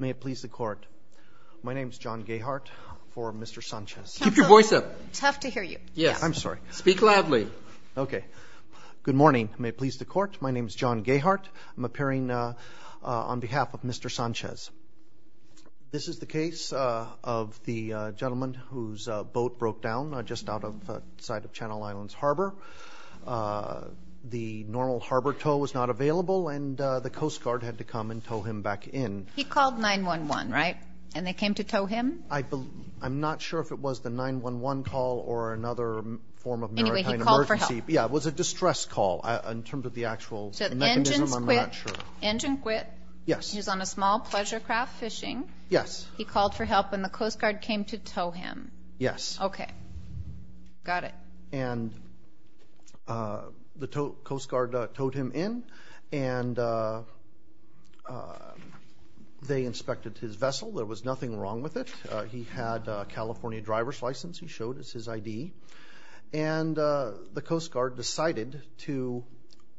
May it please the court, my name is John Gayhart for Mr. Sanchez. Keep your voice up. Tough to hear you. Yeah, I'm sorry. Speak loudly. Okay. Good morning. May it please the court, my name is John Gayhart. I'm appearing on behalf of Mr. Sanchez. This is the case of the gentleman whose boat broke down just outside of Channel Islands Harbor. The normal harbor tow was not available and the Coast Guard had to come and tow him back in. He called 9-1-1, right? And they came to tow him? I'm not sure if it was the 9-1-1 call or another form of maritime emergency. Anyway, he called for help. Yeah, it was a distress call in terms of the actual mechanism, I'm not sure. So the engines quit? Engine quit? Yes. He was on a small pleasure craft fishing? Yes. He called for help and the Coast Guard came to tow him? Yes. Okay. Got it. And the Coast Guard towed him in and they inspected his vessel. There was nothing wrong with it. He had a California driver's license. He showed us his ID. And the Coast Guard decided to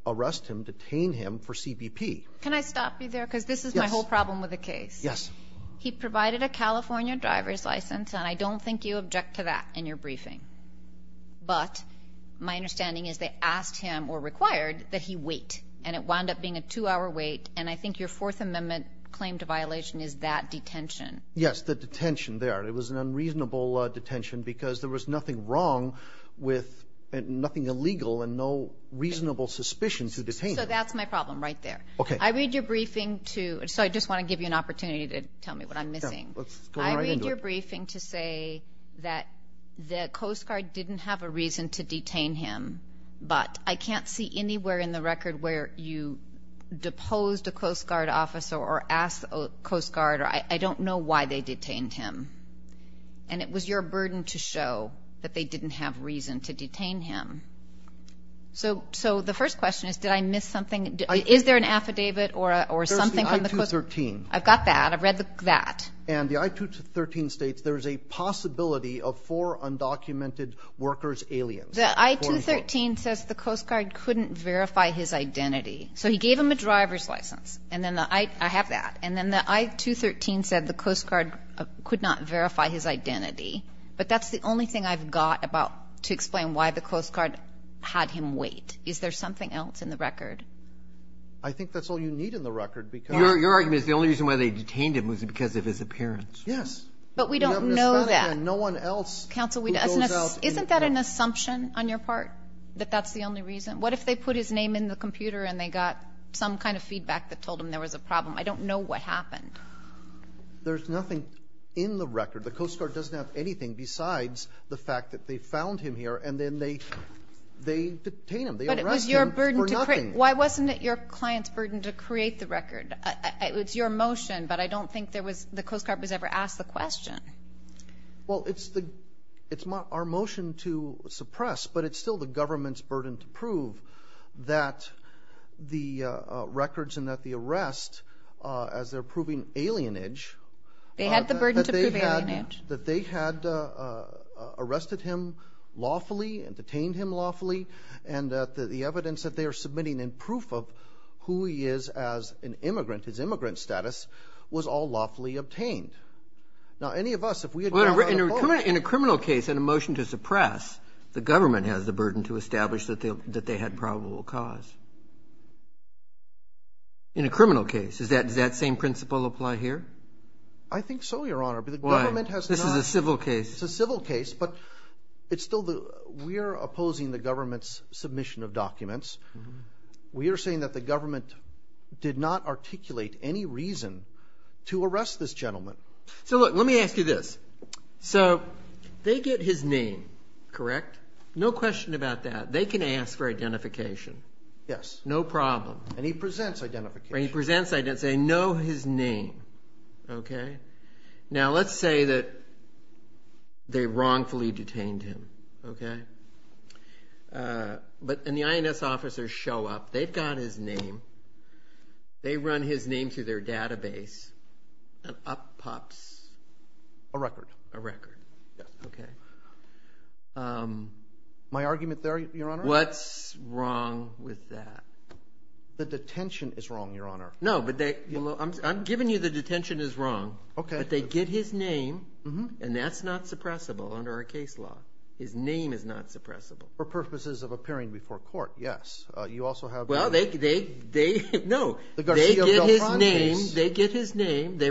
arrest him, detain him for CBP. Can I stop you there? Because this is my whole problem with the case. Yes. He provided a California driver's license and I don't think you object to that in your briefing. But my understanding is they asked him or required that he wait. And it wound up being a two-hour wait. And I think your Fourth Amendment claim to violation is that detention. Yes, the detention there. It was an unreasonable detention because there was nothing wrong with, nothing illegal and no reasonable suspicion to detain him. So that's my problem right there. Okay. I read your briefing to, so I just want to give you an opportunity to tell me what I'm missing. I read your briefing to say that the Coast Guard didn't have a reason to detain him. But I can't see anywhere in the record where you deposed a Coast Guard officer or asked a Coast Guard. I don't know why they detained him. And it was your burden to show that they didn't have reason to detain him. So the first question is, did I miss something? Is there an affidavit or something from the Coast Guard? There's the I-213. I've got that. I've read that. And the I-213 states there's a possibility of four undocumented workers, aliens. The I-213 says the Coast Guard couldn't verify his identity. So he gave him a driver's license. And then the, I have that. And then the I-213 said the Coast Guard could not verify his identity. But that's the only thing I've got about, to explain why the Coast Guard had him wait. Is there something else in the record? I think that's all you need in the record. Your argument is the only reason why they detained him was because of his appearance. Yes. But we don't know that. No one else. Counsel, isn't that an assumption on your part, that that's the only reason? What if they put his name in the computer and they got some kind of feedback that told them there was a problem? I don't know what happened. There's nothing in the record. The Coast Guard doesn't have anything besides the fact that they found him here and then they detained him. But it was your burden to create. Why wasn't it your client's burden to create the record? It's your motion, but I don't think the Coast Guard was ever asked the question. Well, it's our motion to suppress, but it's still the government's burden to prove that the records and that the arrest, as they're proving alienage. They had the burden to prove alienage. That they had arrested him lawfully and detained him lawfully and that the evidence that they are submitting in proof of who he is as an immigrant, his immigrant status, was all lawfully obtained. Now, any of us, if we had gotten that report. In a criminal case, in a motion to suppress, the government has the burden to establish that they had probable cause. In a criminal case, does that same principle apply here? I think so, Your Honor. Why? This is a civil case. It's a civil case, but we are opposing the government's submission of documents. We are saying that the government did not articulate any reason to arrest this gentleman. Let me ask you this. They get his name, correct? No question about that. They can ask for identification. Yes. No problem. And he presents identification. He presents identification. They know his name. Now, let's say that they wrongfully detained him, and the INS officers show up. They've got his name. They run his name through their database, and up pops a record. A record. Yes. Okay. My argument there, Your Honor? What's wrong with that? The detention is wrong, Your Honor. No, but I'm giving you the detention is wrong. Okay. But they get his name, and that's not suppressible under our case law. His name is not suppressible. For purposes of appearing before court, yes. You also have the Garcia-Beltran case. No, they get his name. They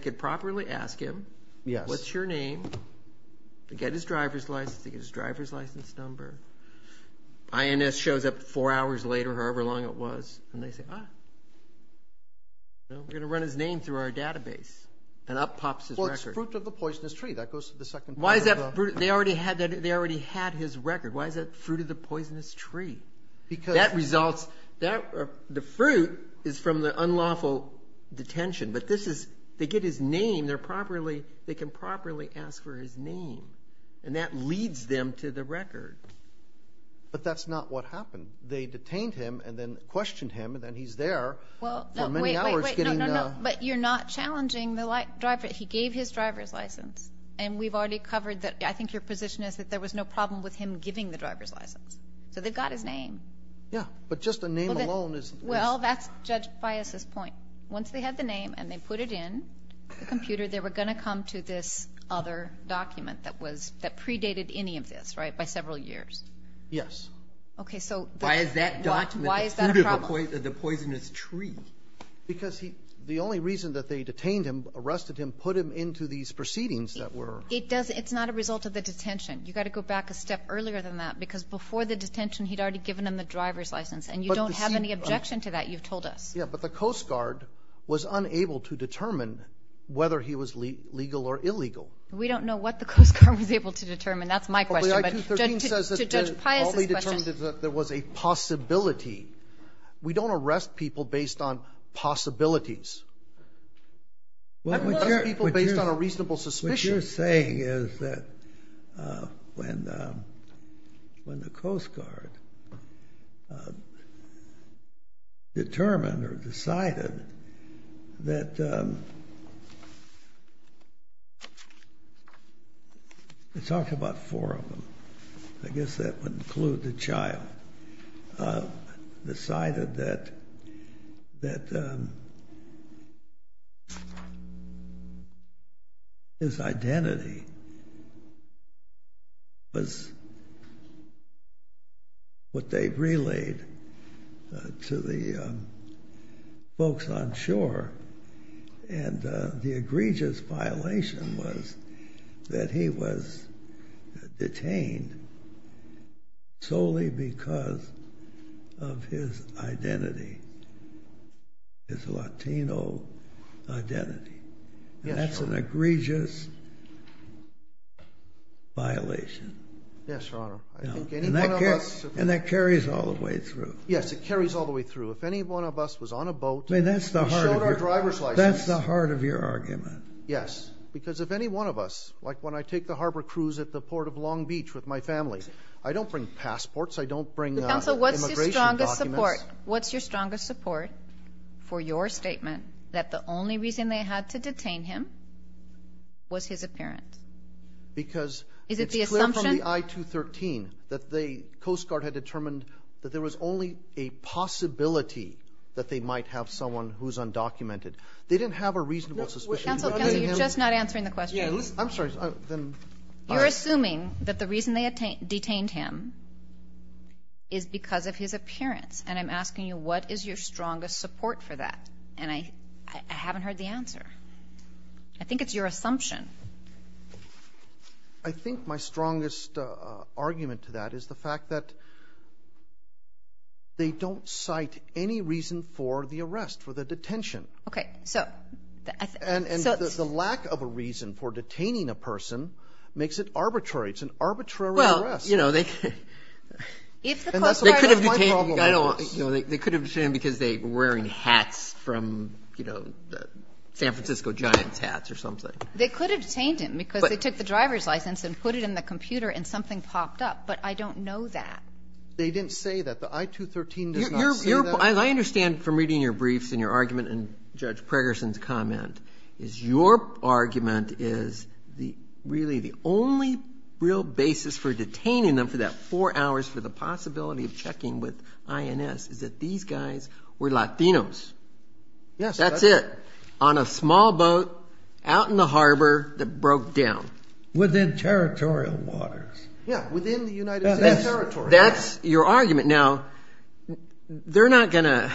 could properly ask him, what's your name? They get his driver's license number. INS shows up four hours later, however long it was, and they say, ah, we're going to run his name through our database, and up pops his record. Well, it's Fruit of the Poisonous Tree. That goes to the second part. They already had his record. Why is that Fruit of the Poisonous Tree? That results the fruit is from the unlawful detention, but they get his name. They can properly ask for his name, and that leads them to the record. But that's not what happened. They detained him and then questioned him, and then he's there for many hours. But you're not challenging the driver. He gave his driver's license. And we've already covered that. I think your position is that there was no problem with him giving the driver's license. So they've got his name. Yeah, but just the name alone is... Well, that's Judge Bias's point. Once they had the name and they put it in the computer, they were going to come to this other document that predated any of this, right, by several years. Yes. Why is that document the Fruit of the Poisonous Tree? Because the only reason that they detained him, arrested him, put him into these proceedings that were... It's not a result of the detention. You've got to go back a step earlier than that, because before the detention he'd already given them the driver's license, and you don't have any objection to that, you've told us. Yeah, but the Coast Guard was unable to determine whether he was legal or illegal. We don't know what the Coast Guard was able to determine. That's my question. But to Judge Bias's question... The I-213 says that they only determined that there was a possibility. We don't arrest people based on possibilities. We arrest people based on a reasonable suspicion. What you're saying is that when the Coast Guard determined or decided that... We talked about four of them. I guess that would include the child. Decided that his identity was what they relayed to the folks on shore, and the egregious violation was that he was detained solely because of his identity, his Latino identity. That's an egregious violation. Yes, Your Honor. And that carries all the way through. Yes, it carries all the way through. If any one of us was on a boat, we showed our driver's license. That's the heart of your argument. Yes, because if any one of us, like when I take the harbor cruise at the port of Long Beach with my family, I don't bring passports, I don't bring immigration documents. Counsel, what's your strongest support for your statement that the only reason they had to detain him was his appearance? Because it's clear from the I-213 that the Coast Guard had determined that there was only a possibility that they might have someone who's undocumented. They didn't have a reasonable suspicion. Counsel, you're just not answering the question. I'm sorry. You're assuming that the reason they detained him is because of his appearance, and I'm asking you what is your strongest support for that, and I haven't heard the answer. I think it's your assumption. I think my strongest argument to that is the fact that they don't cite any reason for the arrest, for the detention. Okay. And the lack of a reason for detaining a person makes it arbitrary. It's an arbitrary arrest. Well, you know, they could have detained him because they were wearing hats from, you know, San Francisco Giants hats or something. They could have detained him because they took the driver's license and put it in the computer and something popped up, but I don't know that. They didn't say that. The I-213 does not say that. I understand from reading your briefs and your argument and Judge Preggerson's comment is your argument is really the only real basis for detaining them for that four hours for the possibility of checking with INS is that these guys were Latinos. Yes. That's it. On a small boat out in the harbor that broke down. Within territorial waters. Yeah, within the United States territory. That's your argument. Now, they're not going to,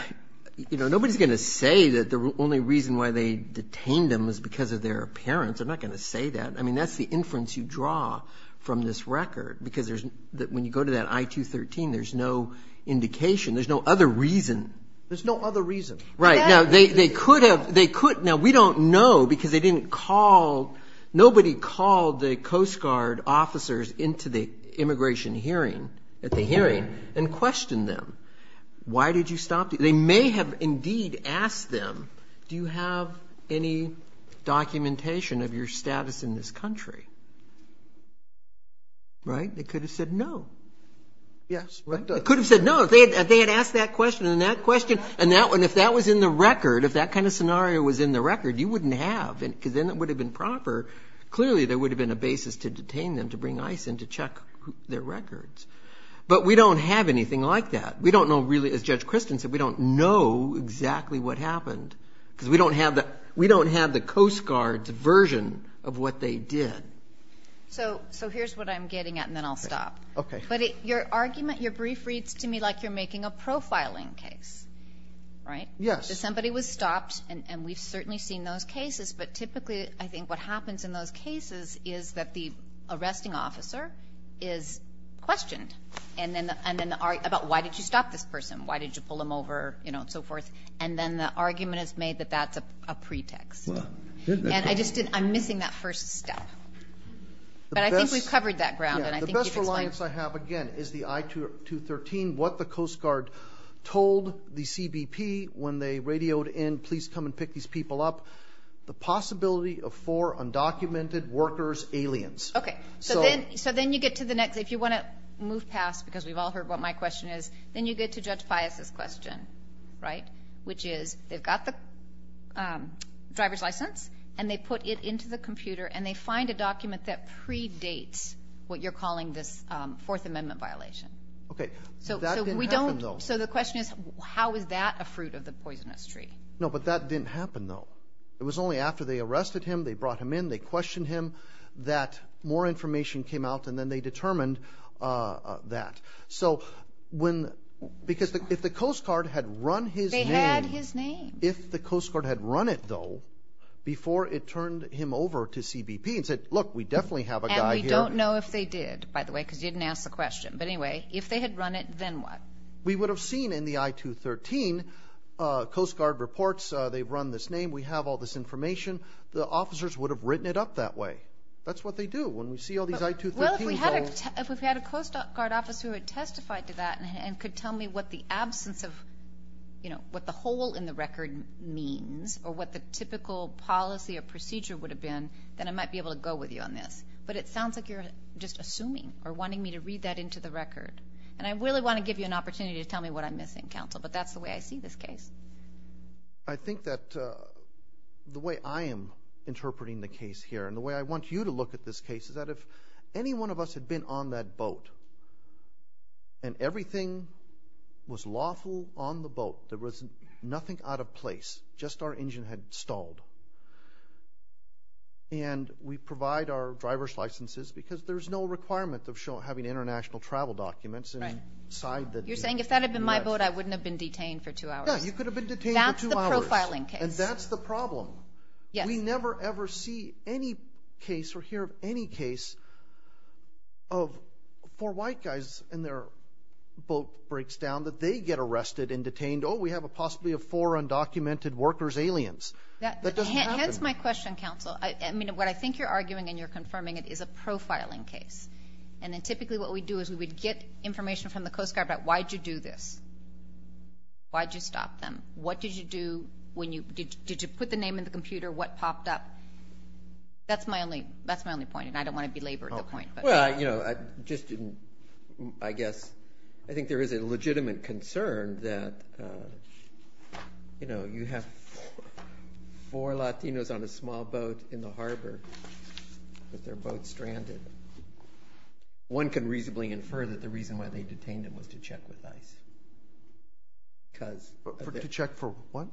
you know, nobody's going to say that the only reason why they detained them was because of their appearance. They're not going to say that. I mean, that's the inference you draw from this record because there's, when you go to that I-213, there's no indication. There's no other reason. There's no other reason. Right. Now, they could have, they could, now we don't know because they didn't call, nobody called the Coast Guard officers into the immigration hearing at the hearing and questioned them. Why did you stop? They may have indeed asked them, do you have any documentation of your status in this country? Right? They could have said no. Yes. They could have said no if they had asked that question and that question and if that was in the record, if that kind of scenario was in the record, you wouldn't have because then it would have been proper. Clearly, there would have been a basis to detain them, to bring ICE in to check their records. But we don't have anything like that. We don't know really, as Judge Kristen said, we don't know exactly what happened because we don't have the Coast Guard's version of what they did. So here's what I'm getting at and then I'll stop. Okay. But your argument, your brief reads to me like you're making a profiling case, right? Yes. Somebody was stopped and we've certainly seen those cases, but typically I think what happens in those cases is that the arresting officer is questioned about why did you stop this person, why did you pull him over, you know, and so forth, and then the argument is made that that's a pretext. And I'm missing that first step. But I think we've covered that ground. The best reliance I have, again, is the I-213, what the Coast Guard told the CBP when they radioed in, please come and pick these people up, the possibility of four undocumented workers, aliens. Okay. So then you get to the next. If you want to move past, because we've all heard what my question is, then you get to Judge Pius' question, right, which is they've got the driver's license and they put it into the computer and they find a document that predates what you're calling this Fourth Amendment violation. Okay. So that didn't happen, though. So the question is how is that a fruit of the poisonous tree? No, but that didn't happen, though. It was only after they arrested him, they brought him in, they questioned him, that more information came out and then they determined that. So because if the Coast Guard had run his name. They had his name. If the Coast Guard had run it, though, before it turned him over to CBP and said, look, we definitely have a guy here. And we don't know if they did, by the way, because you didn't ask the question. But anyway, if they had run it, then what? We would have seen in the I-213, Coast Guard reports, they run this name, we have all this information. The officers would have written it up that way. That's what they do when we see all these I-213s. Well, if we had a Coast Guard officer who had testified to that and could tell me what the absence of, you know, what the hole in the record means or what the typical policy or procedure would have been, then I might be able to go with you on this. But it sounds like you're just assuming or wanting me to read that into the record. And I really want to give you an opportunity to tell me what I'm missing, Counsel, but that's the way I see this case. I think that the way I am interpreting the case here and the way I want you to look at this case is that if any one of us had been on that boat and everything was lawful on the boat, there was nothing out of place, just our engine had stalled, and we provide our driver's licenses because there's no requirement of having international travel documents inside the boat. You're saying if that had been my boat, I wouldn't have been detained for two hours. Yeah, you could have been detained for two hours. That's the profiling case. And that's the problem. We never ever see any case or hear of any case of four white guys and their boat breaks down that they get arrested and detained. Oh, we have possibly four undocumented workers, aliens. That doesn't happen. That's my question, Counsel. I mean, what I think you're arguing and you're confirming is a profiling case. And then typically what we do is we would get information from the Coast Guard about why did you do this, why did you stop them, what did you do, did you put the name in the computer, what popped up. That's my only point, and I don't want to belabor the point. Well, you know, I just didn't, I guess, I think there is a legitimate concern that, you know, you have four Latinos on a small boat in the harbor with their boat stranded. One can reasonably infer that the reason why they detained them was to check with ICE. To check for what?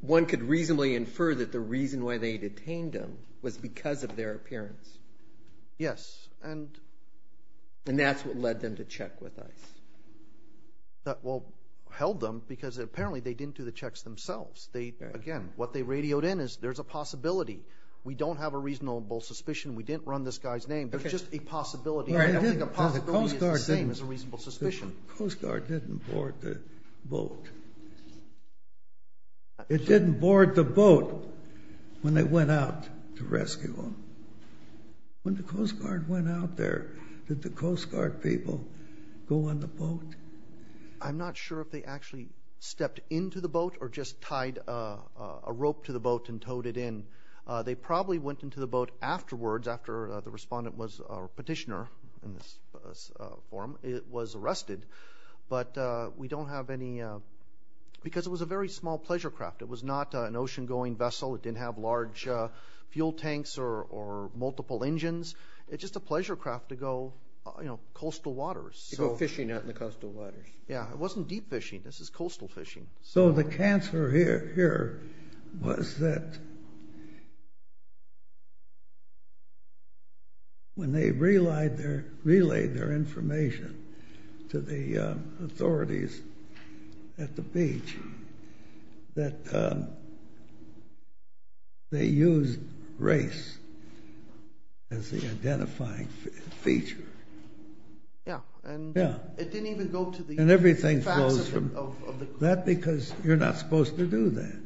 One could reasonably infer that the reason why they detained them was because of their appearance. Yes. And that's what led them to check with ICE. Well, held them because apparently they didn't do the checks themselves. Again, what they radioed in is there's a possibility. We don't have a reasonable suspicion. We didn't run this guy's name. There's just a possibility. I don't think a possibility is the same as a reasonable suspicion. The Coast Guard didn't board the boat. It didn't board the boat when they went out to rescue them. When the Coast Guard went out there, did the Coast Guard people go on the boat? I'm not sure if they actually stepped into the boat or just tied a rope to the boat and towed it in. They probably went into the boat afterwards, after the respondent was a petitioner in this forum. It was arrested because it was a very small pleasure craft. It was not an ocean-going vessel. It didn't have large fuel tanks or multiple engines. It's just a pleasure craft to go coastal waters. To go fishing out in the coastal waters. It wasn't deep fishing. This is coastal fishing. So the cancer here was that when they relayed their information to the authorities at the beach, that they used race as the identifying feature. Yeah. It didn't even go to the facts of the group. Is that because you're not supposed to do that?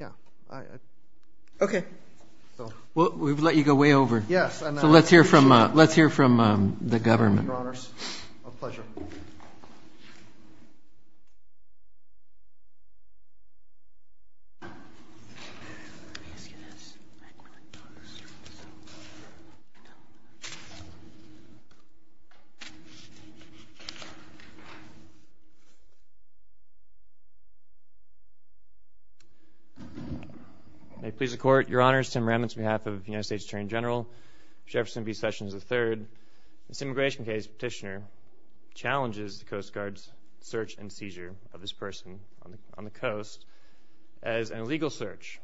Yeah. Okay. Well, we've let you go way over. So let's hear from the government. Thank you, Your Honors. A pleasure. May it please the Court, Your Honors, Tim Remitz on behalf of the United States Attorney General, Jefferson B. Sessions III. This immigration case, Petitioner, challenges the Coast Guard's search and seizure of this person on the coast as an illegal search,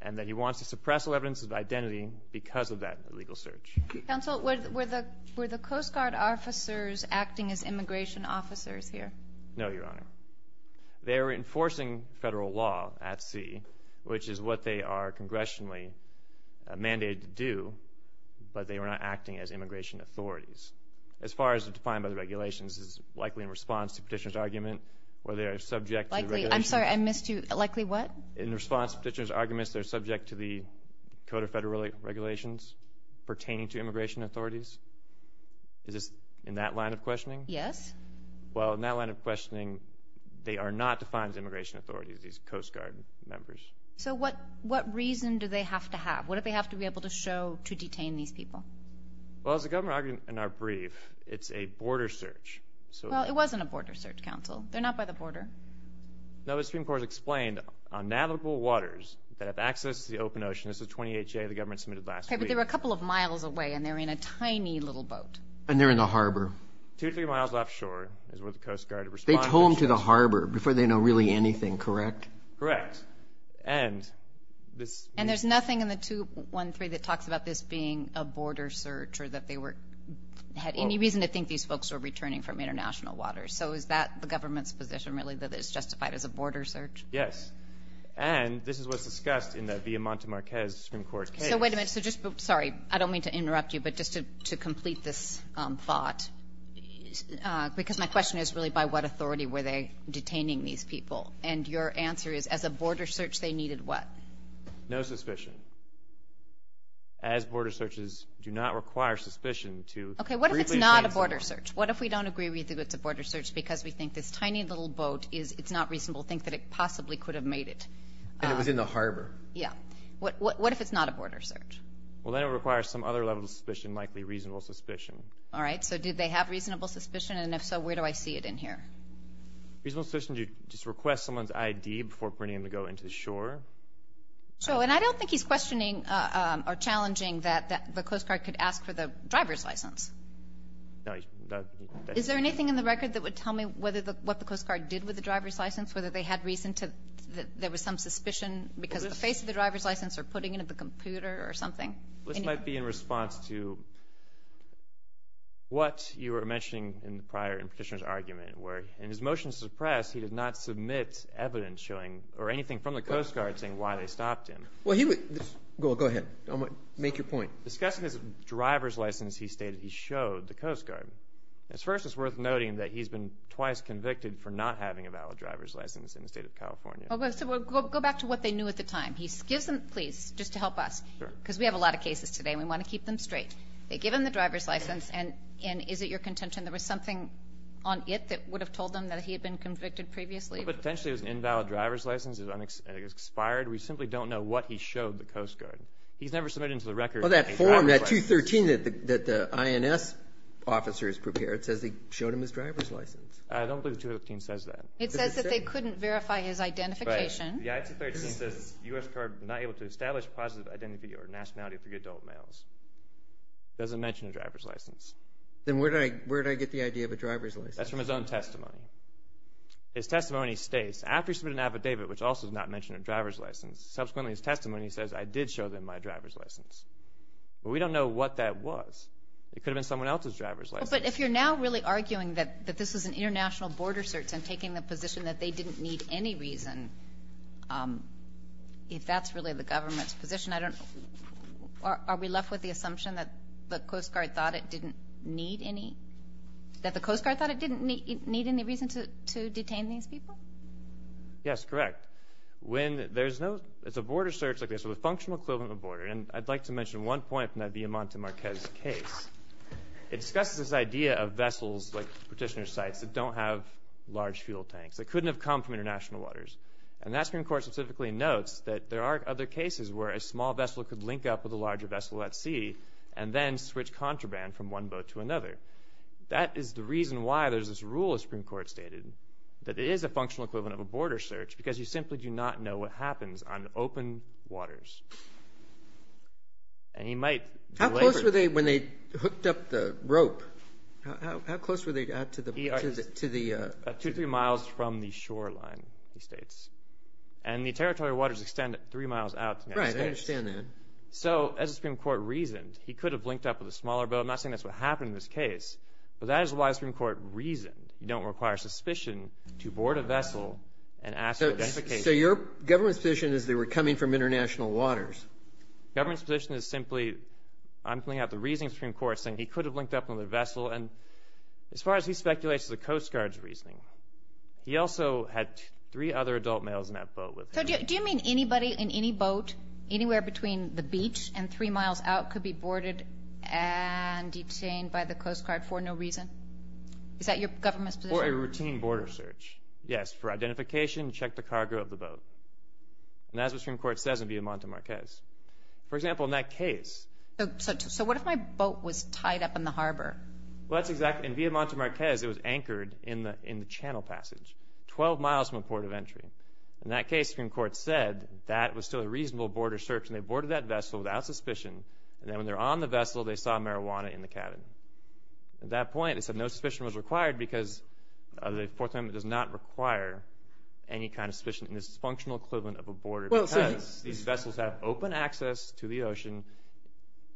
and that he wants to suppress all evidence of identity because of that illegal search. Counsel, were the Coast Guard officers acting as immigration officers here? No, Your Honor. They were enforcing federal law at sea, which is what they are congressionally mandated to do, but they were not acting as immigration authorities. As far as defined by the regulations, this is likely in response to Petitioner's argument, where they are subject to the regulations. I'm sorry, I missed you. Likely what? In response to Petitioner's arguments, they're subject to the code of federal regulations pertaining to immigration authorities. Is this in that line of questioning? Yes. Well, in that line of questioning, they are not defined as immigration authorities, these Coast Guard members. So what reason do they have to have? What do they have to be able to show to detain these people? Well, as the government argued in our brief, it's a border search. Well, it wasn't a border search, Counsel. They're not by the border. No, the Supreme Court has explained on navigable waters that have access to the open ocean. This is a 28-J the government submitted last week. Okay, but they were a couple of miles away, and they were in a tiny little boat. And they're in the harbor. Two to three miles offshore is where the Coast Guard responded. They told them to the harbor before they know really anything, correct? Correct. And there's nothing in the 213 that talks about this being a border search or that they had any reason to think these folks were returning from international waters. So is that the government's position, really, that it's justified as a border search? Yes. And this is what's discussed in that Villamonte Marquez Supreme Court case. So wait a minute. Sorry, I don't mean to interrupt you, but just to complete this thought, because my question is really by what authority were they detaining these people? And your answer is, as a border search, they needed what? No suspicion. As border searches do not require suspicion to briefly explain something. Okay, what if it's not a border search? What if we don't agree we think it's a border search because we think this tiny little boat is not reasonable, think that it possibly could have made it? And it was in the harbor. Yeah. What if it's not a border search? Well, then it requires some other level of suspicion, likely reasonable suspicion. All right. So did they have reasonable suspicion? And if so, where do I see it in here? Reasonable suspicion to just request someone's ID before putting them to go into the shore. So, and I don't think he's questioning or challenging that the Coast Guard could ask for the driver's license. No. Is there anything in the record that would tell me what the Coast Guard did with the driver's license, whether they had reason that there was some suspicion because the face of the driver's license or putting it in the computer or something? In his motion to the press, he did not submit evidence showing or anything from the Coast Guard saying why they stopped him. Go ahead. Make your point. Discussing his driver's license, he stated he showed the Coast Guard. At first, it's worth noting that he's been twice convicted for not having a valid driver's license in the state of California. Go back to what they knew at the time. He gives them, please, just to help us, because we have a lot of cases today and we want to keep them straight. They give him the driver's license and is it your contention there was something on it that would have told them that he had been convicted previously? Well, potentially it was an invalid driver's license. It was expired. We simply don't know what he showed the Coast Guard. He's never submitted to the record a driver's license. Well, that form, that 213 that the INS officer has prepared, says he showed him his driver's license. I don't believe 213 says that. It says that they couldn't verify his identification. Right. The I-213 says U.S. card not able to establish positive identity or nationality for adult males. It doesn't mention a driver's license. Then where did I get the idea of a driver's license? That's from his own testimony. His testimony states, after he submitted an affidavit, which also does not mention a driver's license, subsequently his testimony says, I did show them my driver's license. But we don't know what that was. It could have been someone else's driver's license. But if you're now really arguing that this is an international border search and taking the position that they didn't need any reason, if that's really the government's position, are we left with the assumption that the Coast Guard thought it didn't need any? That the Coast Guard thought it didn't need any reason to detain these people? Yes, correct. When there's no – it's a border search like this, with a functional equivalent of a border, and I'd like to mention one point from that Villamonte-Marquez case. It discusses this idea of vessels, like petitioner cites, that don't have large fuel tanks, that couldn't have come from international waters. And that Supreme Court specifically notes that there are other cases where a small vessel could link up with a larger vessel at sea and then switch contraband from one boat to another. That is the reason why there's this rule, as Supreme Court stated, that it is a functional equivalent of a border search because you simply do not know what happens on open waters. And he might – How close were they when they hooked up the rope? How close were they to the – Two, three miles from the shoreline, he states. And the territory waters extend three miles out to the United States. Right, I understand that. So as the Supreme Court reasoned, he could have linked up with a smaller boat. I'm not saying that's what happened in this case, but that is why the Supreme Court reasoned. You don't require suspicion to board a vessel and ask for identification. So your government's position is they were coming from international waters? Government's position is simply – I'm pulling out the reasoning of the Supreme Court, saying he could have linked up with another vessel. And as far as he speculates, it's the Coast Guard's reasoning. He also had three other adult males in that boat with him. So do you mean anybody in any boat, anywhere between the beach and three miles out, could be boarded and detained by the Coast Guard for no reason? Is that your government's position? Or a routine border search. Yes, for identification, check the cargo of the boat. And that's what the Supreme Court says in Via Monte Marquez. For example, in that case – So what if my boat was tied up in the harbor? Well, that's exactly – In Via Monte Marquez, it was anchored in the channel passage, 12 miles from the port of entry. In that case, the Supreme Court said that was still a reasonable border search, and they boarded that vessel without suspicion. And then when they were on the vessel, they saw marijuana in the cabin. At that point, it said no suspicion was required because the Fourth Amendment does not require any kind of suspicion. And this is a functional equivalent of a border because these vessels have open access to the ocean,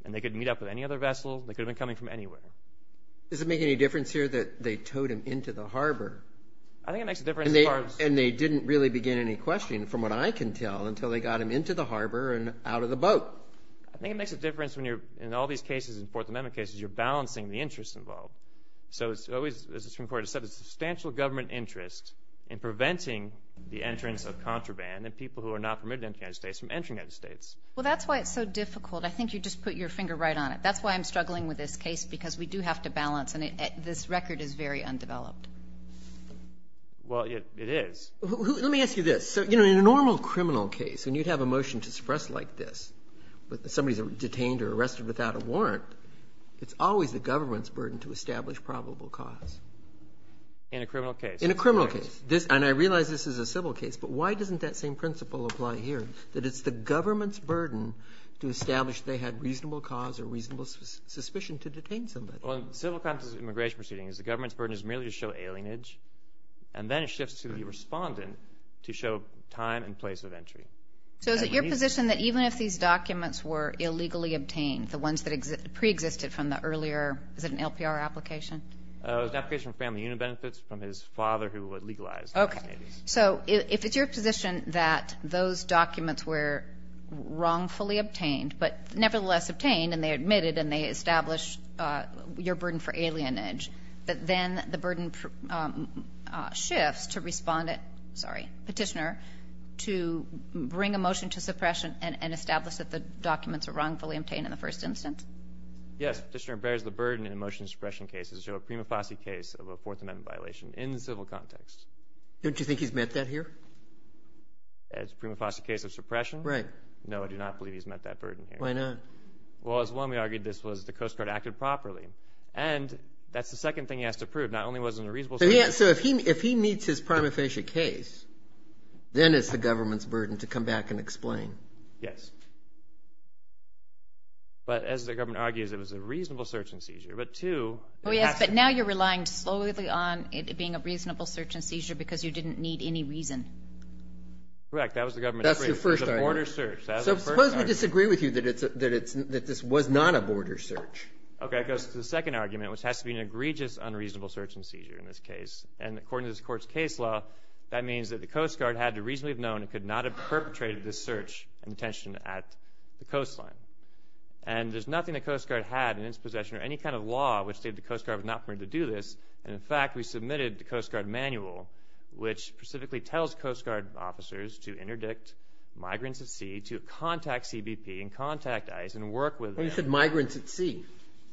and they could meet up with any other vessel. They could have been coming from anywhere. Does it make any difference here that they towed him into the harbor? I think it makes a difference as far as – And they didn't really begin any questioning, from what I can tell, until they got him into the harbor and out of the boat. I think it makes a difference when you're – In all these cases, in Fourth Amendment cases, you're balancing the interest involved. So it's always, as the Supreme Court has said, a substantial government interest in preventing the entrance of contraband and people who are not permitted to enter the United States from entering the United States. Well, that's why it's so difficult. I think you just put your finger right on it. That's why I'm struggling with this case because we do have to balance, and this record is very undeveloped. Well, it is. Let me ask you this. In a normal criminal case, when you'd have a motion to suppress like this, but somebody's detained or arrested without a warrant, it's always the government's burden to establish probable cause. In a criminal case. In a criminal case. And I realize this is a civil case, but why doesn't that same principle apply here, that it's the government's burden to establish they had reasonable cause or reasonable suspicion to detain somebody? Well, in civil crimes and immigration proceedings, the government's burden is merely to show alienage, and then it shifts to the respondent to show time and place of entry. So is it your position that even if these documents were illegally obtained, the ones that preexisted from the earlier, is it an LPR application? It was an application from Family Union Benefits from his father who legalized. Okay. So if it's your position that those documents were wrongfully obtained, but nevertheless obtained and they admitted and they established your burden for alienage, that then the burden shifts to respondent, sorry, petitioner, to bring a motion to suppression and establish that the documents were wrongfully obtained in the first instance? Yes. Petitioner bears the burden in a motion to suppression case to show a prima facie case of a Fourth Amendment violation in the civil context. Don't you think he's met that here? As a prima facie case of suppression? Right. No, I do not believe he's met that burden here. Why not? Well, as one, we argued this was the Coast Guard acted properly, and that's the second thing he has to prove. Not only was it a reasonable seizure. So if he meets his prima facie case, then it's the government's burden to come back and explain. Yes. But as the government argues, it was a reasonable search and seizure. Oh, yes, but now you're relying slowly on it being a reasonable search and seizure because you didn't need any reason. Correct. That was the government's argument. So it was a border search. Suppose we disagree with you that this was not a border search. Okay. It goes to the second argument, which has to be an egregious unreasonable search and seizure in this case. According to this court's case law, that means that the Coast Guard had to reasonably have known it could not have perpetrated this search and detention at the coastline. There's nothing the Coast Guard had in its possession or any kind of law which stated the Coast Guard was not permitted to do this. In fact, we submitted the Coast Guard manual, which specifically tells Coast Guard officers to interdict migrants at sea, to contact CBP and contact ICE and work with them. You said migrants at sea.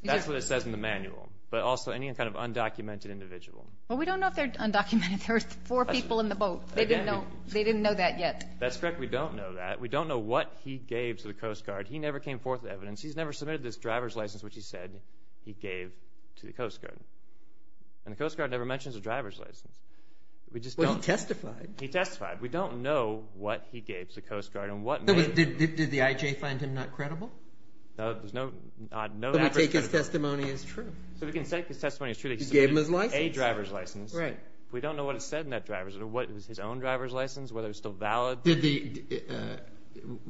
That's what it says in the manual, but also any kind of undocumented individual. Well, we don't know if they're undocumented. There were four people in the boat. They didn't know that yet. That's correct. We don't know that. We don't know what he gave to the Coast Guard. He never came forth with evidence. He's never submitted this driver's license, which he said he gave to the Coast Guard. The Coast Guard never mentions a driver's license. Well, he testified. He testified. We don't know what he gave to the Coast Guard and what manual. Did the IJ find him not credible? No. So we can take his testimony as true. So we can take his testimony as true that he submitted a driver's license. We don't know what it said in that driver's license or what was his own driver's license, whether it was still valid.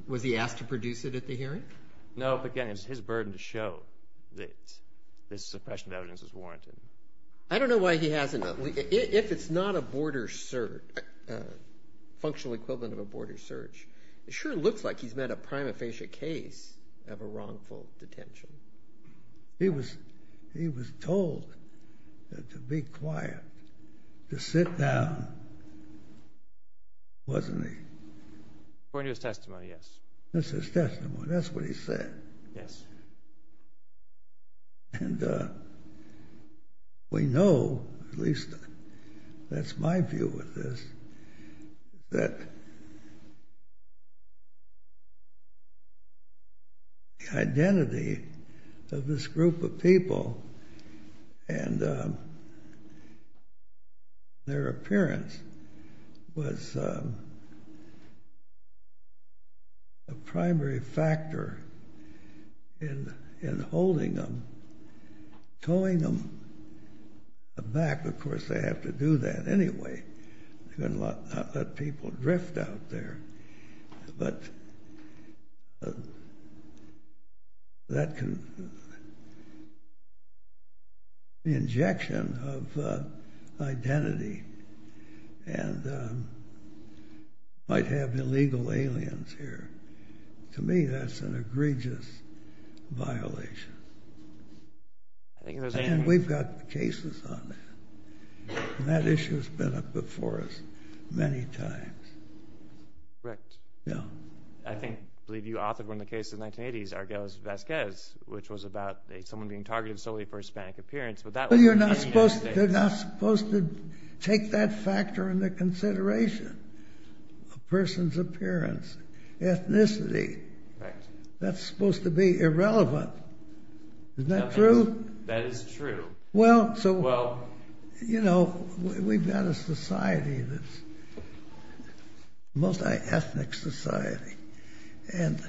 Was he asked to produce it at the hearing? No, but again, it's his burden to show that this suppression of evidence is warranted. I don't know why he hasn't. If it's not a border search, functional equivalent of a border search, it sure looks like he's met a prima facie case of a wrongful detention. He was told to be quiet, to sit down, wasn't he? According to his testimony, yes. This is testimony. That's what he said. Yes. And we know, at least that's my view of this, that the identity of this group of people and their appearance was a primary factor in holding them, towing them back. Of course, they have to do that anyway. They're going to not let people drift out there. But the injection of identity might have illegal aliens here. To me, that's an egregious violation. And we've got cases on that. And that issue has been up before us many times. Correct. Yeah. I believe you authored one of the cases in the 1980s, Argelas-Vasquez, which was about someone being targeted solely for Hispanic appearance. But you're not supposed to take that factor into consideration, a person's appearance, ethnicity. That's supposed to be irrelevant. Isn't that true? That is true. Well, you know, we've got a society that's a multi-ethnic society. And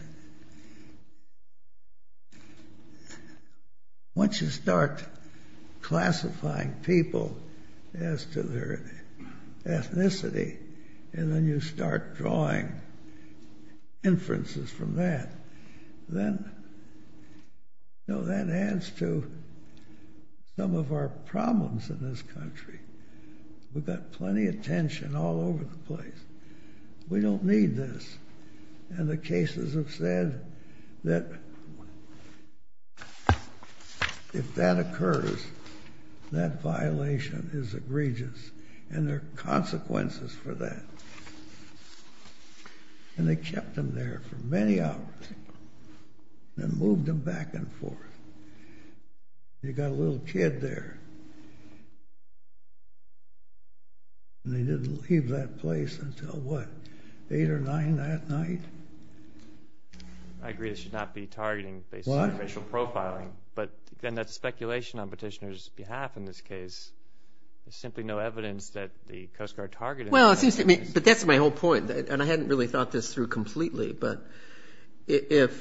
once you start classifying people as to their ethnicity, and then you start drawing inferences from that, then that adds to some of our problems in this country. We've got plenty of tension all over the place. We don't need this. And the cases have said that if that occurs, that violation is egregious. And there are consequences for that. And they kept them there for many hours and moved them back and forth. They got a little kid there, and they didn't leave that place until, what, 8 or 9 that night? I agree this should not be targeting based on racial profiling. But then that's speculation on petitioners' behalf in this case. Well, but that's my whole point. And I hadn't really thought this through completely. But if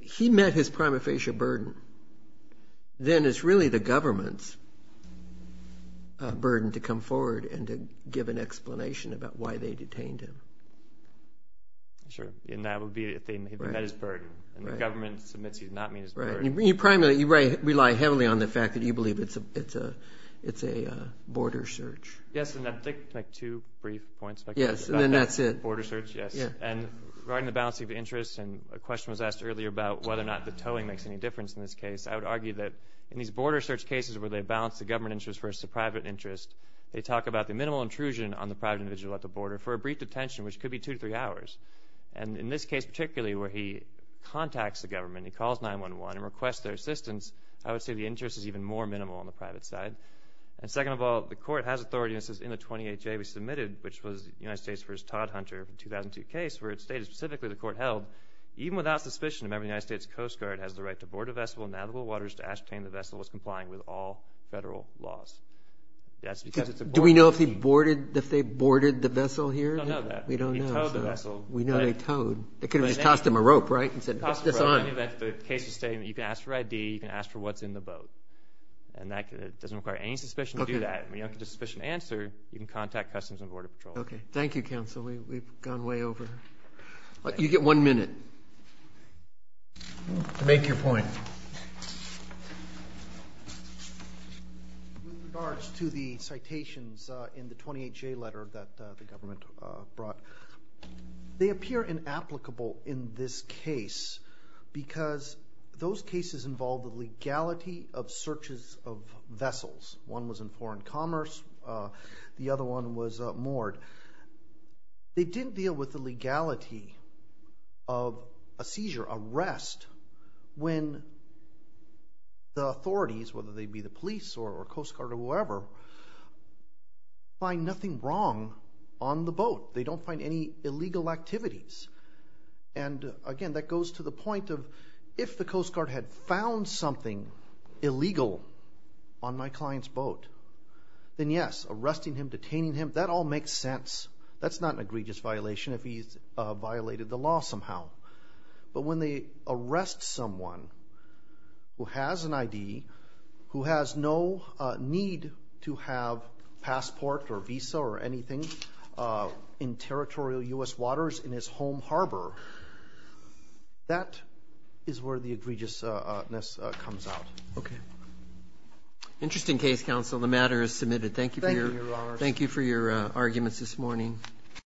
he met his prima facie burden, then it's really the government's burden to come forward and to give an explanation about why they detained him. Sure, and that would be if they met his burden. And the government submits he did not meet his burden. You primarily rely heavily on the fact that you believe it's a border search. Yes, and I'd like to make two brief points. Yes, and then that's it. Border search, yes. And regarding the balancing of interests, and a question was asked earlier about whether or not the towing makes any difference in this case, I would argue that in these border search cases where they balance the government interest versus the private interest, they talk about the minimal intrusion on the private individual at the border for a brief detention, which could be two to three hours. And in this case particularly where he contacts the government, he calls 911 and requests their assistance, I would say the interest is even more minimal on the private side. And second of all, the court has authority, and this is in the 28-J we submitted, which was the United States v. Todd Hunter in the 2002 case where it stated specifically the court held, even without suspicion the member of the United States Coast Guard has the right to board a vessel in navigable waters to ascertain the vessel was complying with all federal laws. Do we know if they boarded the vessel here? We don't know that. We don't know. He towed the vessel. We know they towed. They could have just tossed him a rope, right, and said, toss this on. In any event, the case is stating that you can ask for ID, you can ask for what's in the boat. And that doesn't require any suspicion to do that. If you don't have a suspicion to answer, you can contact Customs and Border Patrol. Okay. Thank you, Counsel. We've gone way over. You get one minute. Make your point. With regards to the citations in the 28-J letter that the government brought, they appear inapplicable in this case because those cases involved the legality of searches of vessels. One was in foreign commerce. The other one was moored. They didn't deal with the legality of a seizure, a rest, when the authorities, whether they be the police or Coast Guard or whoever, find nothing wrong on the boat. They don't find any illegal activities. And, again, that goes to the point of, if the Coast Guard had found something illegal on my client's boat, then, yes, arresting him, detaining him, that all makes sense. That's not an egregious violation if he's violated the law somehow. But when they arrest someone who has an ID, who has no need to have passport or visa or anything in territorial U.S. waters in his home harbor, that is where the egregiousness comes out. Okay. Interesting case, counsel. The matter is submitted. Thank you for your arguments this morning.